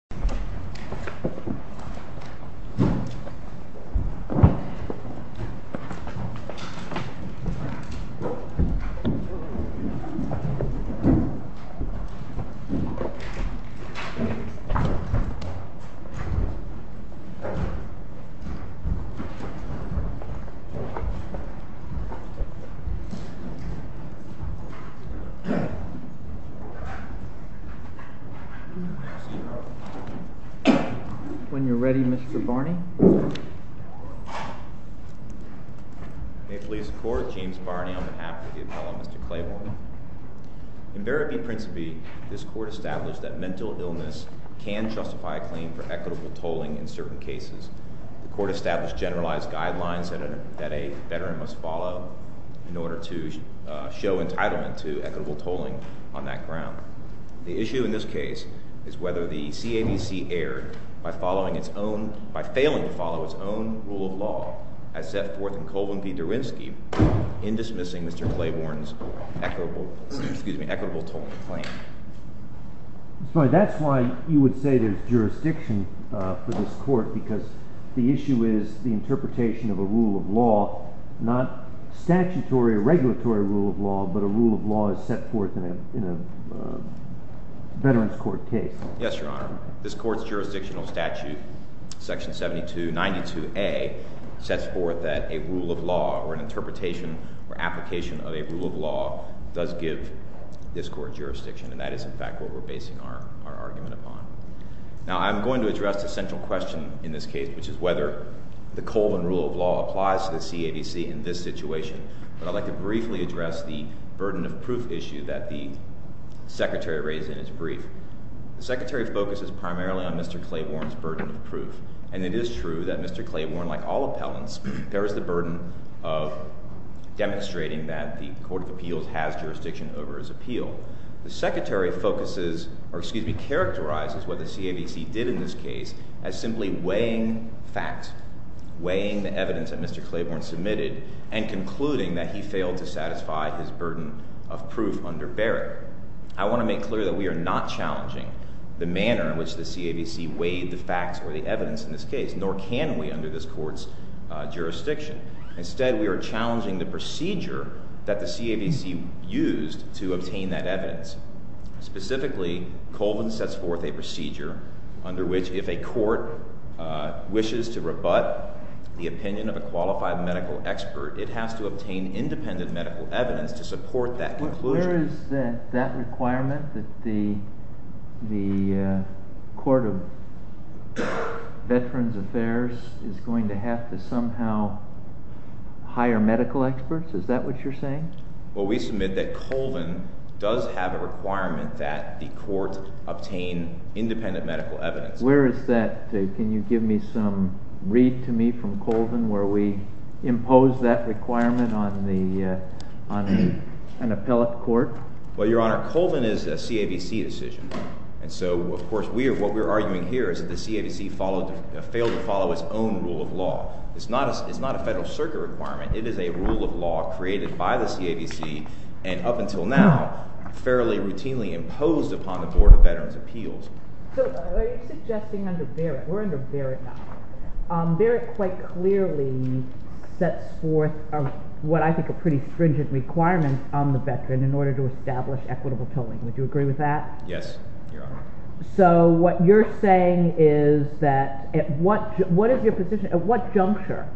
The city was founded in the 1st century BC by the Latvians, the nomads of Piaxea When you're ready, Mr. Barney May it please the court, James Barney on behalf of the appellate, Mr. Claiborne In Verity Principi, this court established that mental illness can justify a claim for equitable tolling in certain cases The court established generalized guidelines that a veteran must follow in order to show entitlement to equitable tolling on that ground The issue in this case is whether the CABC erred by failing to follow its own rule of law as set forth in Colvin v. Derwinski in dismissing Mr. Claiborne's equitable tolling claim That's why you would say there's jurisdiction for this court, because the issue is the interpretation of a rule of law Not statutory or regulatory rule of law, but a rule of law as set forth in a veterans court case Yes, your honor. This court's jurisdictional statute, section 7292A, sets forth that a rule of law or an interpretation or application of a rule of law does give this court jurisdiction And that is in fact what we're basing our argument upon Now I'm going to address the central question in this case, which is whether the Colvin rule of law applies to the CABC in this situation But I'd like to briefly address the burden of proof issue that the secretary raised in his brief The secretary focuses primarily on Mr. Claiborne's burden of proof And it is true that Mr. Claiborne, like all appellants, bears the burden of demonstrating that the court of appeals has jurisdiction over his appeal The secretary focuses, or excuse me, characterizes what the CABC did in this case as simply weighing facts Weighing the evidence that Mr. Claiborne submitted and concluding that he failed to satisfy his burden of proof under Barrett I want to make clear that we are not challenging the manner in which the CABC weighed the facts or the evidence in this case Nor can we under this court's jurisdiction Instead, we are challenging the procedure that the CABC used to obtain that evidence Specifically, Colvin sets forth a procedure under which if a court wishes to rebut the opinion of a qualified medical expert It has to obtain independent medical evidence to support that conclusion Where is that requirement that the court of veterans affairs is going to have to somehow hire medical experts? Is that what you're saying? Well, we submit that Colvin does have a requirement that the court obtain independent medical evidence Where is that? Can you give me some read to me from Colvin where we impose that requirement on an appellate court? Well, your honor, Colvin is a CABC decision And so, of course, what we're arguing here is that the CABC failed to follow its own rule of law It's not a federal circuit requirement It is a rule of law created by the CABC and up until now fairly routinely imposed upon the board of veterans appeals So are you suggesting under Barrett, we're under Barrett now Barrett quite clearly sets forth what I think are pretty stringent requirements on the veteran in order to establish equitable tolling Would you agree with that? Yes, your honor So what you're saying is that at what juncture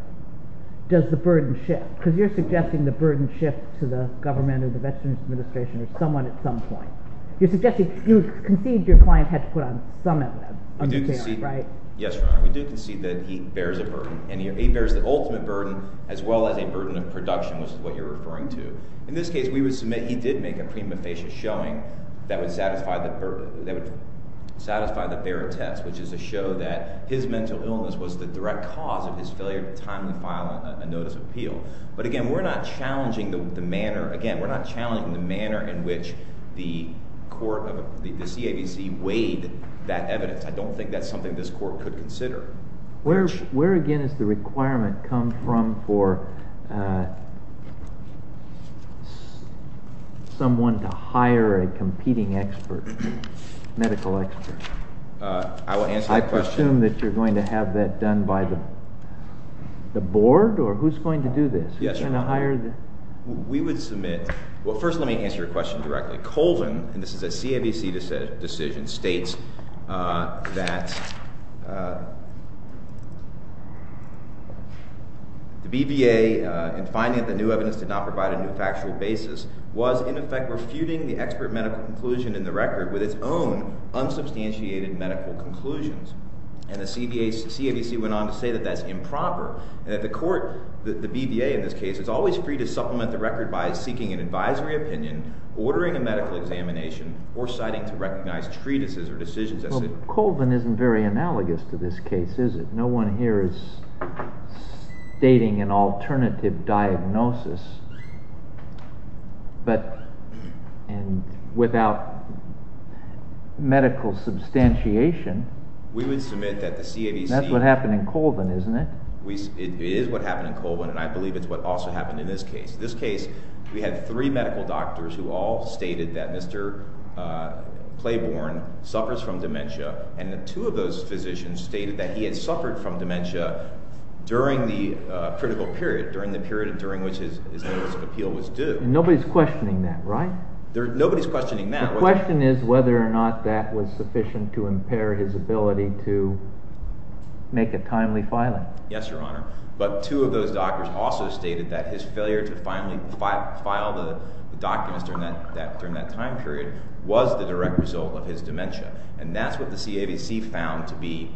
does the burden shift? Because you're suggesting the burden shifts to the government or the Veterans Administration or someone at some point You concede your client had to put on some evidence Yes, your honor, we do concede that he bears a burden And he bears the ultimate burden as well as a burden of production, which is what you're referring to In this case, we would submit he did make a prima facie showing that would satisfy the Barrett test Which is to show that his mental illness was the direct cause of his failure to timely file a notice of appeal But again, we're not challenging the manner in which the CABC weighed that evidence I don't think that's something this court could consider Where again is the requirement come from for someone to hire a competing medical expert? I will answer that question Do you assume that you're going to have that done by the board or who's going to do this? We would submit, well first let me answer your question directly Colvin, and this is a CABC decision, states that the BVA in finding that new evidence did not provide a new factual basis Was in effect refuting the expert medical conclusion in the record with its own unsubstantiated medical conclusions And the CABC went on to say that that's improper And that the court, the BVA in this case, is always free to supplement the record by seeking an advisory opinion Ordering a medical examination or citing to recognize treatises or decisions Colvin isn't very analogous to this case, is it? No one here is stating an alternative diagnosis But without medical substantiation We would submit that the CABC That's what happened in Colvin, isn't it? It is what happened in Colvin and I believe it's what also happened in this case In this case, we had three medical doctors who all stated that Mr. Claiborne suffers from dementia And that two of those physicians stated that he had suffered from dementia during the critical period During the period during which his notice of appeal was due Nobody's questioning that, right? Nobody's questioning that The question is whether or not that was sufficient to impair his ability to make a timely filing Yes, Your Honor But two of those doctors also stated that his failure to finally file the documents during that time period Was the direct result of his dementia And that's what the CABC found to be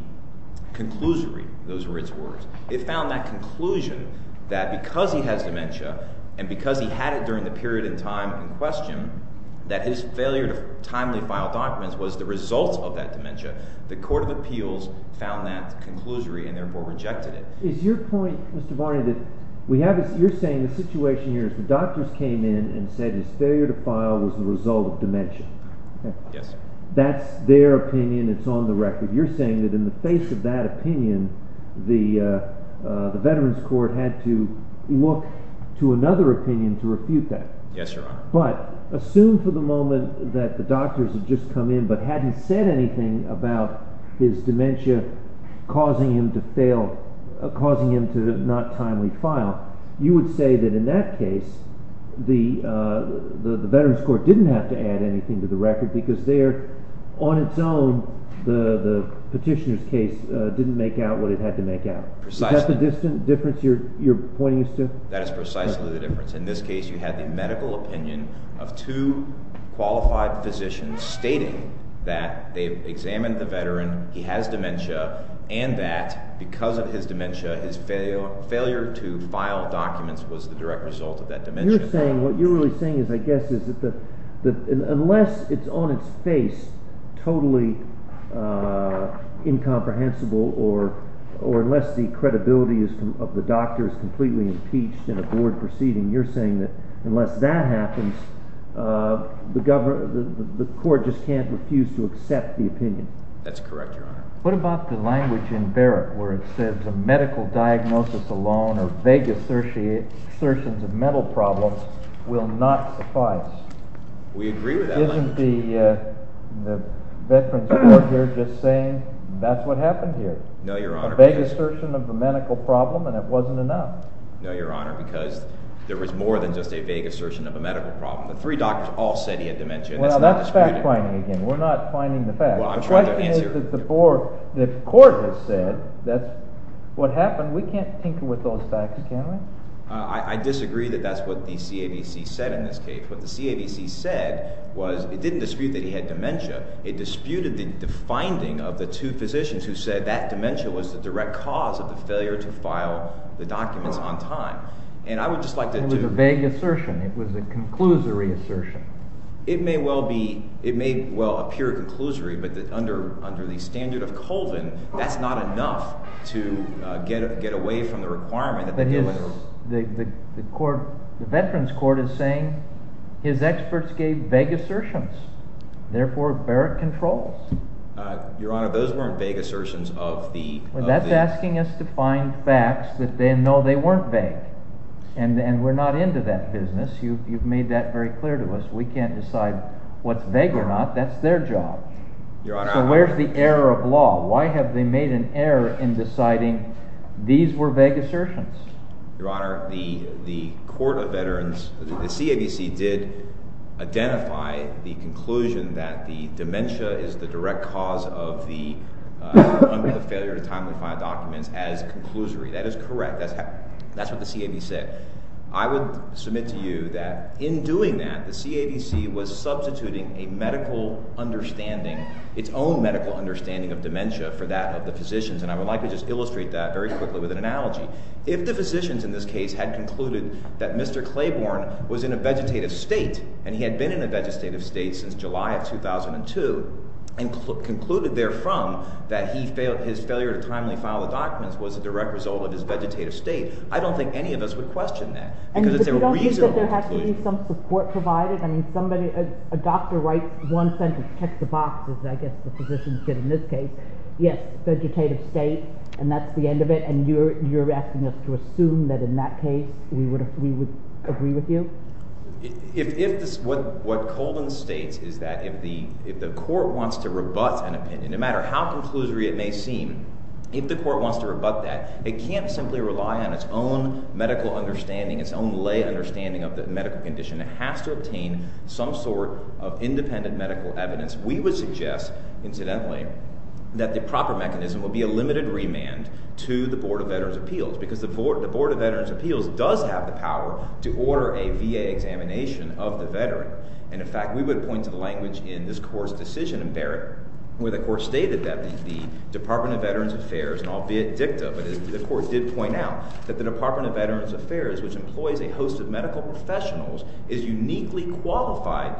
conclusory Those were its words It found that conclusion that because he has dementia And because he had it during the period in time in question That his failure to timely file documents was the result of that dementia The Court of Appeals found that conclusory and therefore rejected it Is your point, Mr. Barney, that you're saying the situation here is the doctors came in And said his failure to file was the result of dementia Yes, sir That's their opinion, it's on the record You're saying that in the face of that opinion The Veterans Court had to look to another opinion to refute that Yes, Your Honor But assume for the moment that the doctors had just come in But hadn't said anything about his dementia causing him to fail Causing him to not timely file You would say that in that case The Veterans Court didn't have to add anything to the record Because there, on its own, the petitioner's case didn't make out what it had to make out Precisely That is precisely the difference In this case you had the medical opinion of two qualified physicians Stating that they examined the veteran, he has dementia And that because of his dementia His failure to file documents was the direct result of that dementia You're saying, what you're really saying is, I guess Unless it's on its face totally incomprehensible Or unless the credibility of the doctor is completely impeached In a board proceeding You're saying that unless that happens The court just can't refuse to accept the opinion That's correct, Your Honor What about the language in Barrett Where it says a medical diagnosis alone or vague assertions of mental problems Will not suffice We agree with that language Isn't the Veterans Court here just saying that's what happened here? No, Your Honor A vague assertion of the medical problem and it wasn't enough No, Your Honor Because there was more than just a vague assertion of a medical problem The three doctors all said he had dementia Well, that's fact finding again We're not finding the fact Well, I'm trying to answer The question is that the court has said that's what happened We can't tinker with those facts, can we? I disagree that that's what the CABC said in this case What the CABC said was, it didn't dispute that he had dementia It disputed the finding of the two physicians who said That dementia was the direct cause of the failure to file the documents on time And I would just like to do It was a vague assertion It was a conclusory assertion It may well be, it may well appear conclusory But under the standard of Colvin, that's not enough to get away from the requirement The Veterans Court is saying his experts gave vague assertions Therefore, Barrett controls Your Honor, those weren't vague assertions of the Well, that's asking us to find facts that they know they weren't vague And we're not into that business You've made that very clear to us We can't decide what's vague or not That's their job Your Honor So where's the error of law? Why have they made an error in deciding these were vague assertions? Your Honor, the Court of Veterans The CABC did identify the conclusion that the dementia is the direct cause of the Failure to timely file documents as conclusory That is correct That's what the CAB said I would submit to you that in doing that The CABC was substituting a medical understanding Its own medical understanding of dementia for that of the physicians And I would like to just illustrate that very quickly with an analogy If the physicians in this case had concluded that Mr. Claiborne was in a vegetative state And he had been in a vegetative state since July of 2002 And concluded therefrom that his failure to timely file the documents Was a direct result of his vegetative state I don't think any of us would question that And if you don't think that there has to be some support provided I mean, somebody A doctor writes one sentence, checks the boxes I guess the physicians did in this case Yes, vegetative state And that's the end of it And you're asking us to assume that in that case We would agree with you? What Colvin states is that if the court wants to rebut an opinion No matter how conclusory it may seem If the court wants to rebut that It can't simply rely on its own medical understanding Its own lay understanding of the medical condition It has to obtain some sort of independent medical evidence We would suggest, incidentally That the proper mechanism would be a limited remand To the Board of Veterans' Appeals Because the Board of Veterans' Appeals does have the power To order a VA examination of the veteran And in fact, we would point to the language in this court's decision in Barrett Where the court stated that the Department of Veterans Affairs And albeit dicta, but the court did point out That the Department of Veterans Affairs Which employs a host of medical professionals Is uniquely qualified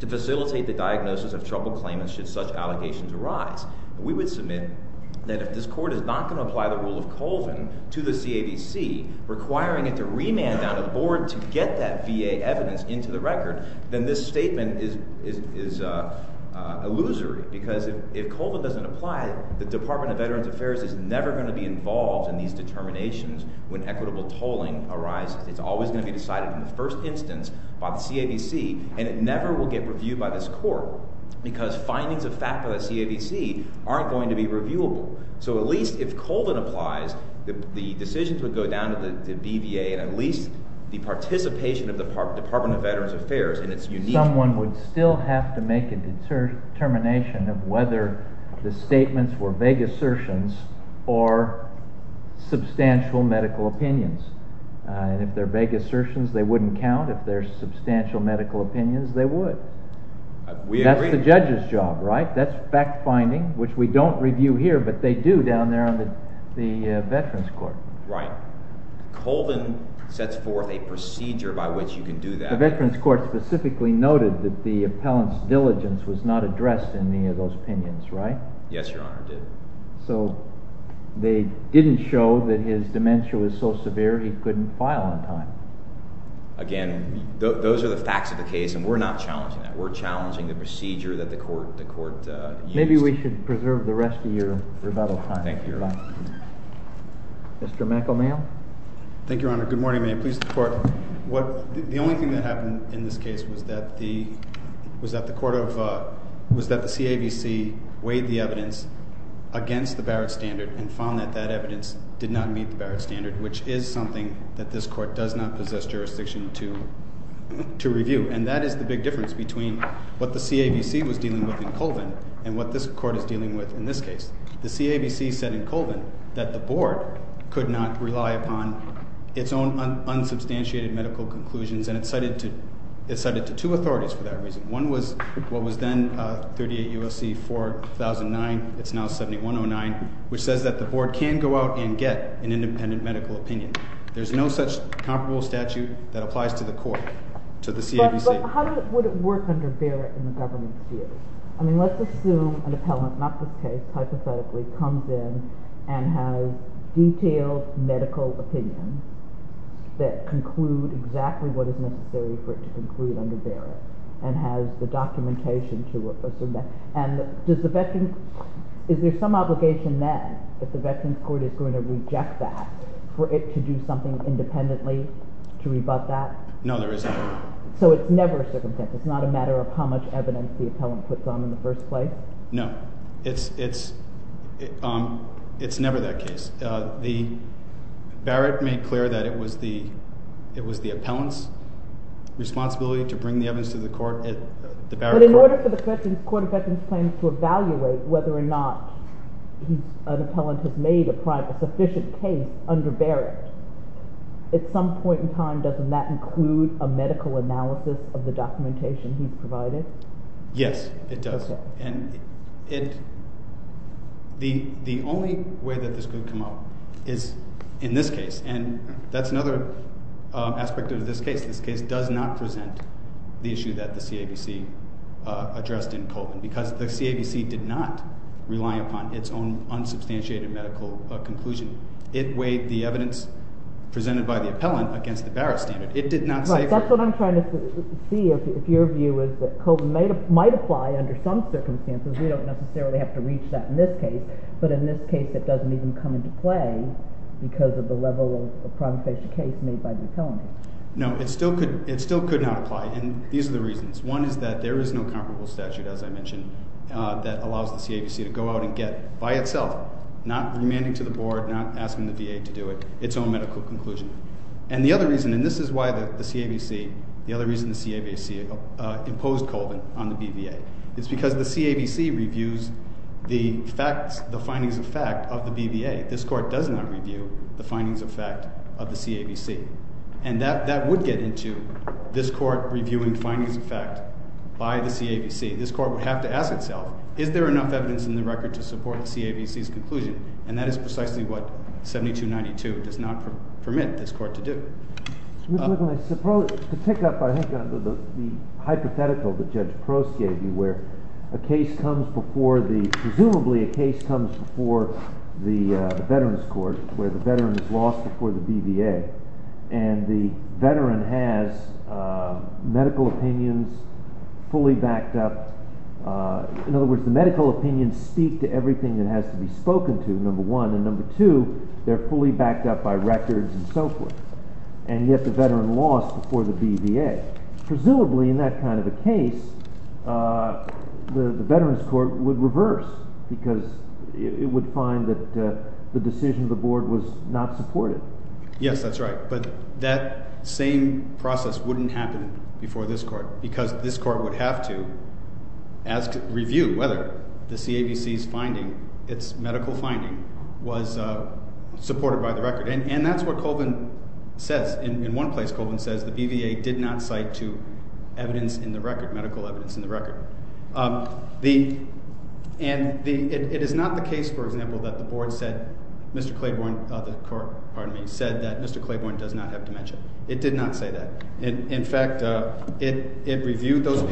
to facilitate the diagnosis of troubled claimants Should such allegations arise We would submit that if this court is not going to apply The rule of Colvin to the CAVC Requiring it to remand down to the Board To get that VA evidence into the record Then this statement is illusory Because if Colvin doesn't apply The Department of Veterans Affairs Is never going to be involved in these determinations When equitable tolling arises It's always going to be decided in the first instance by the CAVC And it never will get reviewed by this court Because findings of fact by the CAVC Aren't going to be reviewable So at least if Colvin applies The decisions would go down to the BVA And at least the participation of the Department of Veterans Affairs In its unique... Someone would still have to make a determination Of whether the statements were vague assertions Or substantial medical opinions And if they're vague assertions, they wouldn't count If they're substantial medical opinions, they would We agree That's the judge's job, right? That's fact-finding, which we don't review here But they do down there on the Veterans Court Right Colvin sets forth a procedure by which you can do that The Veterans Court specifically noted That the appellant's diligence Was not addressed in any of those opinions, right? Yes, Your Honor, it did So they didn't show that his dementia was so severe He couldn't file on time Again, those are the facts of the case And we're not challenging that We're challenging the procedure that the court used Maybe we should preserve the rest of your rebuttal time Thank you, Your Honor Mr. McElmayle Thank you, Your Honor Good morning, may it please the Court The only thing that happened in this case Was that the CAVC weighed the evidence Against the Barrett Standard And found that that evidence did not meet the Barrett Standard Which is something that this Court does not possess jurisdiction to review And that is the big difference Between what the CAVC was dealing with in Colvin And what this Court is dealing with in this case The CAVC said in Colvin That the Board could not rely upon Its own unsubstantiated medical conclusions And it cited to two authorities for that reason One was what was then 38 U.S.C. 4009 It's now 7109 Which says that the Board can go out and get An independent medical opinion There's no such comparable statute That applies to the Court To the CAVC But how would it work under Barrett In the government's view? I mean let's assume an appellant Not this case, hypothetically Comes in and has detailed medical opinions That conclude exactly what is necessary For it to conclude under Barrett And has the documentation to it Let's assume that And is there some obligation then That the Veterans Court is going to reject that For it to do something independently To rebut that? No there isn't So it's never a circumstance It's not a matter of how much evidence The appellant puts on in the first place? No It's never that case Barrett made clear that it was the It was the appellant's responsibility To bring the evidence to the Barrett Court But in order for the Court of Veterans Claims To evaluate whether or not An appellant has made a sufficient case Under Barrett At some point in time Doesn't that include a medical analysis Of the documentation he's provided? Yes it does And it The only way that this could come up Is in this case And that's another aspect of this case This case does not present The issue that the CABC addressed in Colvin Because the CABC did not rely upon Its own unsubstantiated medical conclusion It weighed the evidence Presented by the appellant Against the Barrett standard It did not say Right, that's what I'm trying to see If your view is that Colvin might apply Under some circumstances We don't necessarily have to reach that In this case But in this case it doesn't even come into play Because of the level of Promised case made by the appellant No, it still could not apply And these are the reasons One is that there is no comparable statute As I mentioned That allows the CABC to go out and get By itself Not remanding to the board Not asking the VA to do it Its own medical conclusion And the other reason And this is why the CABC The other reason the CABC imposed Colvin On the BVA Is because the CABC reviews The findings of fact of the BVA This court does not review The findings of fact of the CABC And that would get into This court reviewing findings of fact This court would have to ask itself Is there enough evidence in the record To support the CABC's conclusion And that is precisely what 7292 does not permit this court to do To pick up on the hypothetical That Judge Prost gave you Where a case comes before the Presumably a case comes before The Veterans Court Where the veteran is lost before the BVA And the veteran has Medical opinions fully backed up In other words, the medical opinions Speak to everything that has to be Spoken to, number one And number two, they're fully backed up By records and so forth And yet the veteran lost before the BVA Presumably in that kind of a case The Veterans Court would reverse Because it would find that The decision of the board was not supported Yes, that's right But that same process wouldn't happen Before this court Because this court would have to Ask, review, whether The CABC's finding, its medical finding Was supported by the record And that's what Colvin says In one place, Colvin says The BVA did not cite to Evidence in the record, medical evidence In the record And it is not the case, for example That the board said Mr. Claiborne, the court, pardon me Said that Mr. Claiborne does not have dementia It did not say that In fact, it reviewed those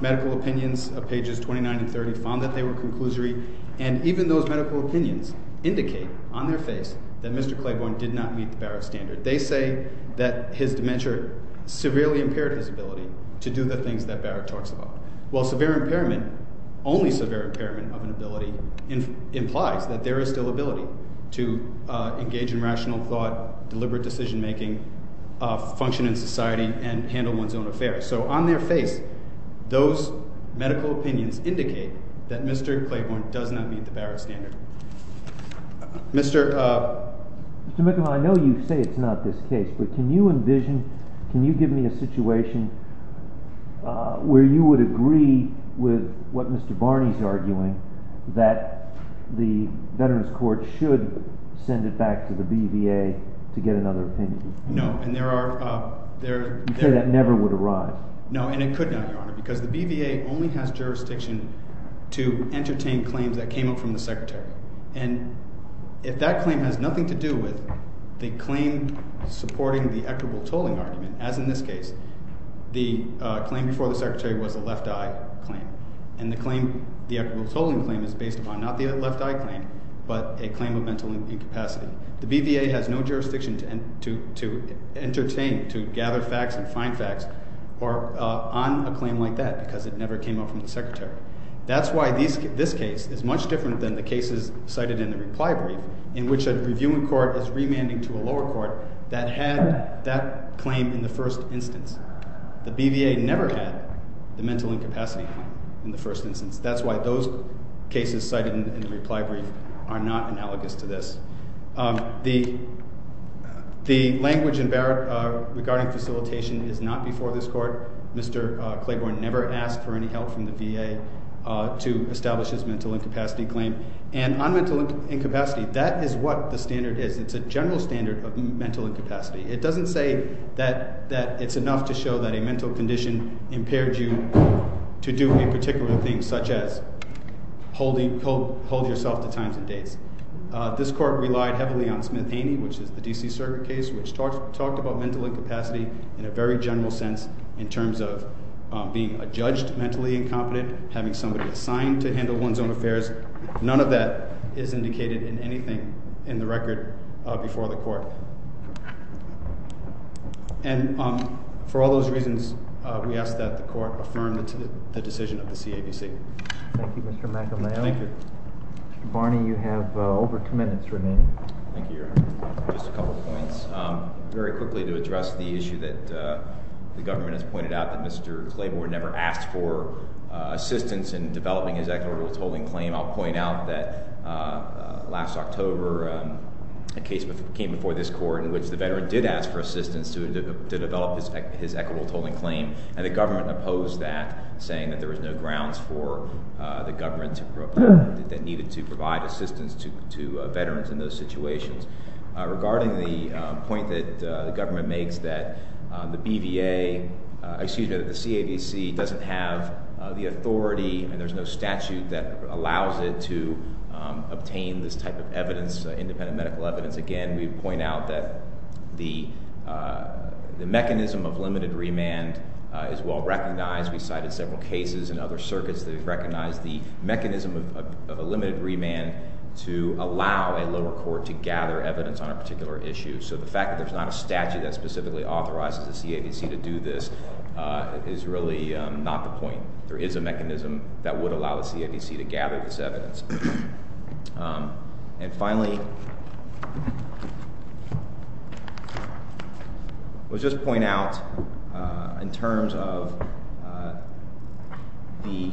medical opinions Pages 29 and 30 Found that they were conclusory And even those medical opinions Indicate on their face That Mr. Claiborne did not meet the Barrett standard They say that his dementia Severely impaired his ability To do the things that Barrett talks about While severe impairment Only severe impairment of an ability Implies that there is still ability To engage in rational thought Deliberate decision making Function in society And handle one's own affairs So on their face Those medical opinions Indicate that Mr. Claiborne Does not meet the Barrett standard Mr. Mr. McClellan, I know you say it's not this case But can you envision Can you give me a situation Where you would agree With what Mr. Barney is arguing That the Veterans court should Send it back to the BVA To get another opinion No, and there are You say that never would arrive No, and it could not Your Honor Because the BVA only has jurisdiction To entertain claims that came up From the secretary And if that claim has nothing to do with The claim supporting The equitable tolling argument As in this case The claim before the secretary was a left eye claim And the claim The equitable tolling claim is based upon Not the left eye claim But a claim of mental incapacity The BVA has no jurisdiction To entertain To gather facts and find facts On a claim like that Because it never came up from the secretary That's why this case is much different Than the cases cited in the reply brief In which a reviewing court Is remanding to a lower court That had that claim in the first instance The BVA never had The mental incapacity In the first instance That's why those cases cited in the reply brief Are not analogous to this The The language Regarding facilitation is not before this court Mr. Claiborne never asked For any help from the BVA To establish his mental incapacity claim And on mental incapacity That is what the standard is It's a general standard of mental incapacity It doesn't say that It's enough to show that a mental condition Impaired you to do A particular thing such as Holding yourself to times and dates This court relied heavily on Smith-Amy which is the D.C. Circuit case Which talked about mental incapacity In a very general sense In terms of being a judge Mentally incompetent, having somebody assigned To handle one's own affairs None of that is indicated in anything In the record before the court And For all those reasons we ask that the court Affirm the decision of the CABC Thank you Mr. McElmayo Mr. Barney you have Over two minutes remaining Just a couple points Very quickly to address the issue that The government has pointed out that Mr. Claiborne never asked for Assistance in developing his equitable Tolling claim, I'll point out that Last October A case came before this court In which the veteran did ask for assistance To develop his equitable Tolling claim and the government opposed that Saying that there was no grounds for The government that needed To provide assistance to Veterans in those situations Regarding the point that The government makes that the BVA Excuse me, that the CABC Doesn't have the authority And there's no statute that Allows it to obtain This type of evidence, independent medical Evidence, again we point out that The Mechanism of limited remand Is well recognized We cited several cases in other circuits that Recognize the mechanism of Limited remand to allow A lower court to gather evidence On a particular issue, so the fact that there's not A statute that specifically authorizes the CABC To do this Is really not the point There is a mechanism that would allow the CABC To gather this evidence And finally I will Just point out In terms of The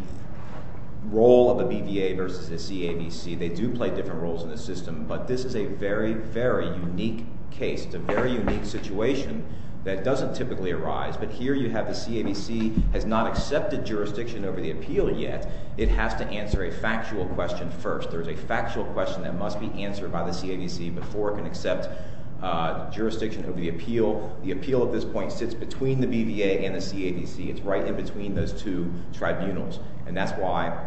Role of the BVA Versus the CABC, they do play different roles In the system, but this is a very Very unique case, a very Unique situation that doesn't Typically arise, but here you have the CABC Has not accepted jurisdiction Over the appeal yet, it has to Answer a factual question first There's a factual question that must be answered By the CABC before it can accept Jurisdiction over the appeal The appeal at this point sits between the BVA and the CABC, it's right in between Those two tribunals And that's why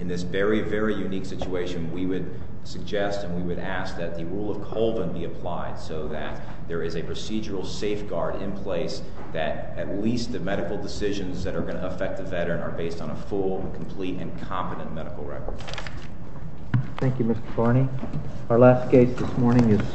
in this very Very unique situation we would Suggest and we would ask that the rule of Colvin be applied so that There is a procedural safeguard in place That at least the medical Decisions that are going to affect the veteran Are based on a full, complete, and competent Medical record Thank you Mr. Farney Our last case this morning is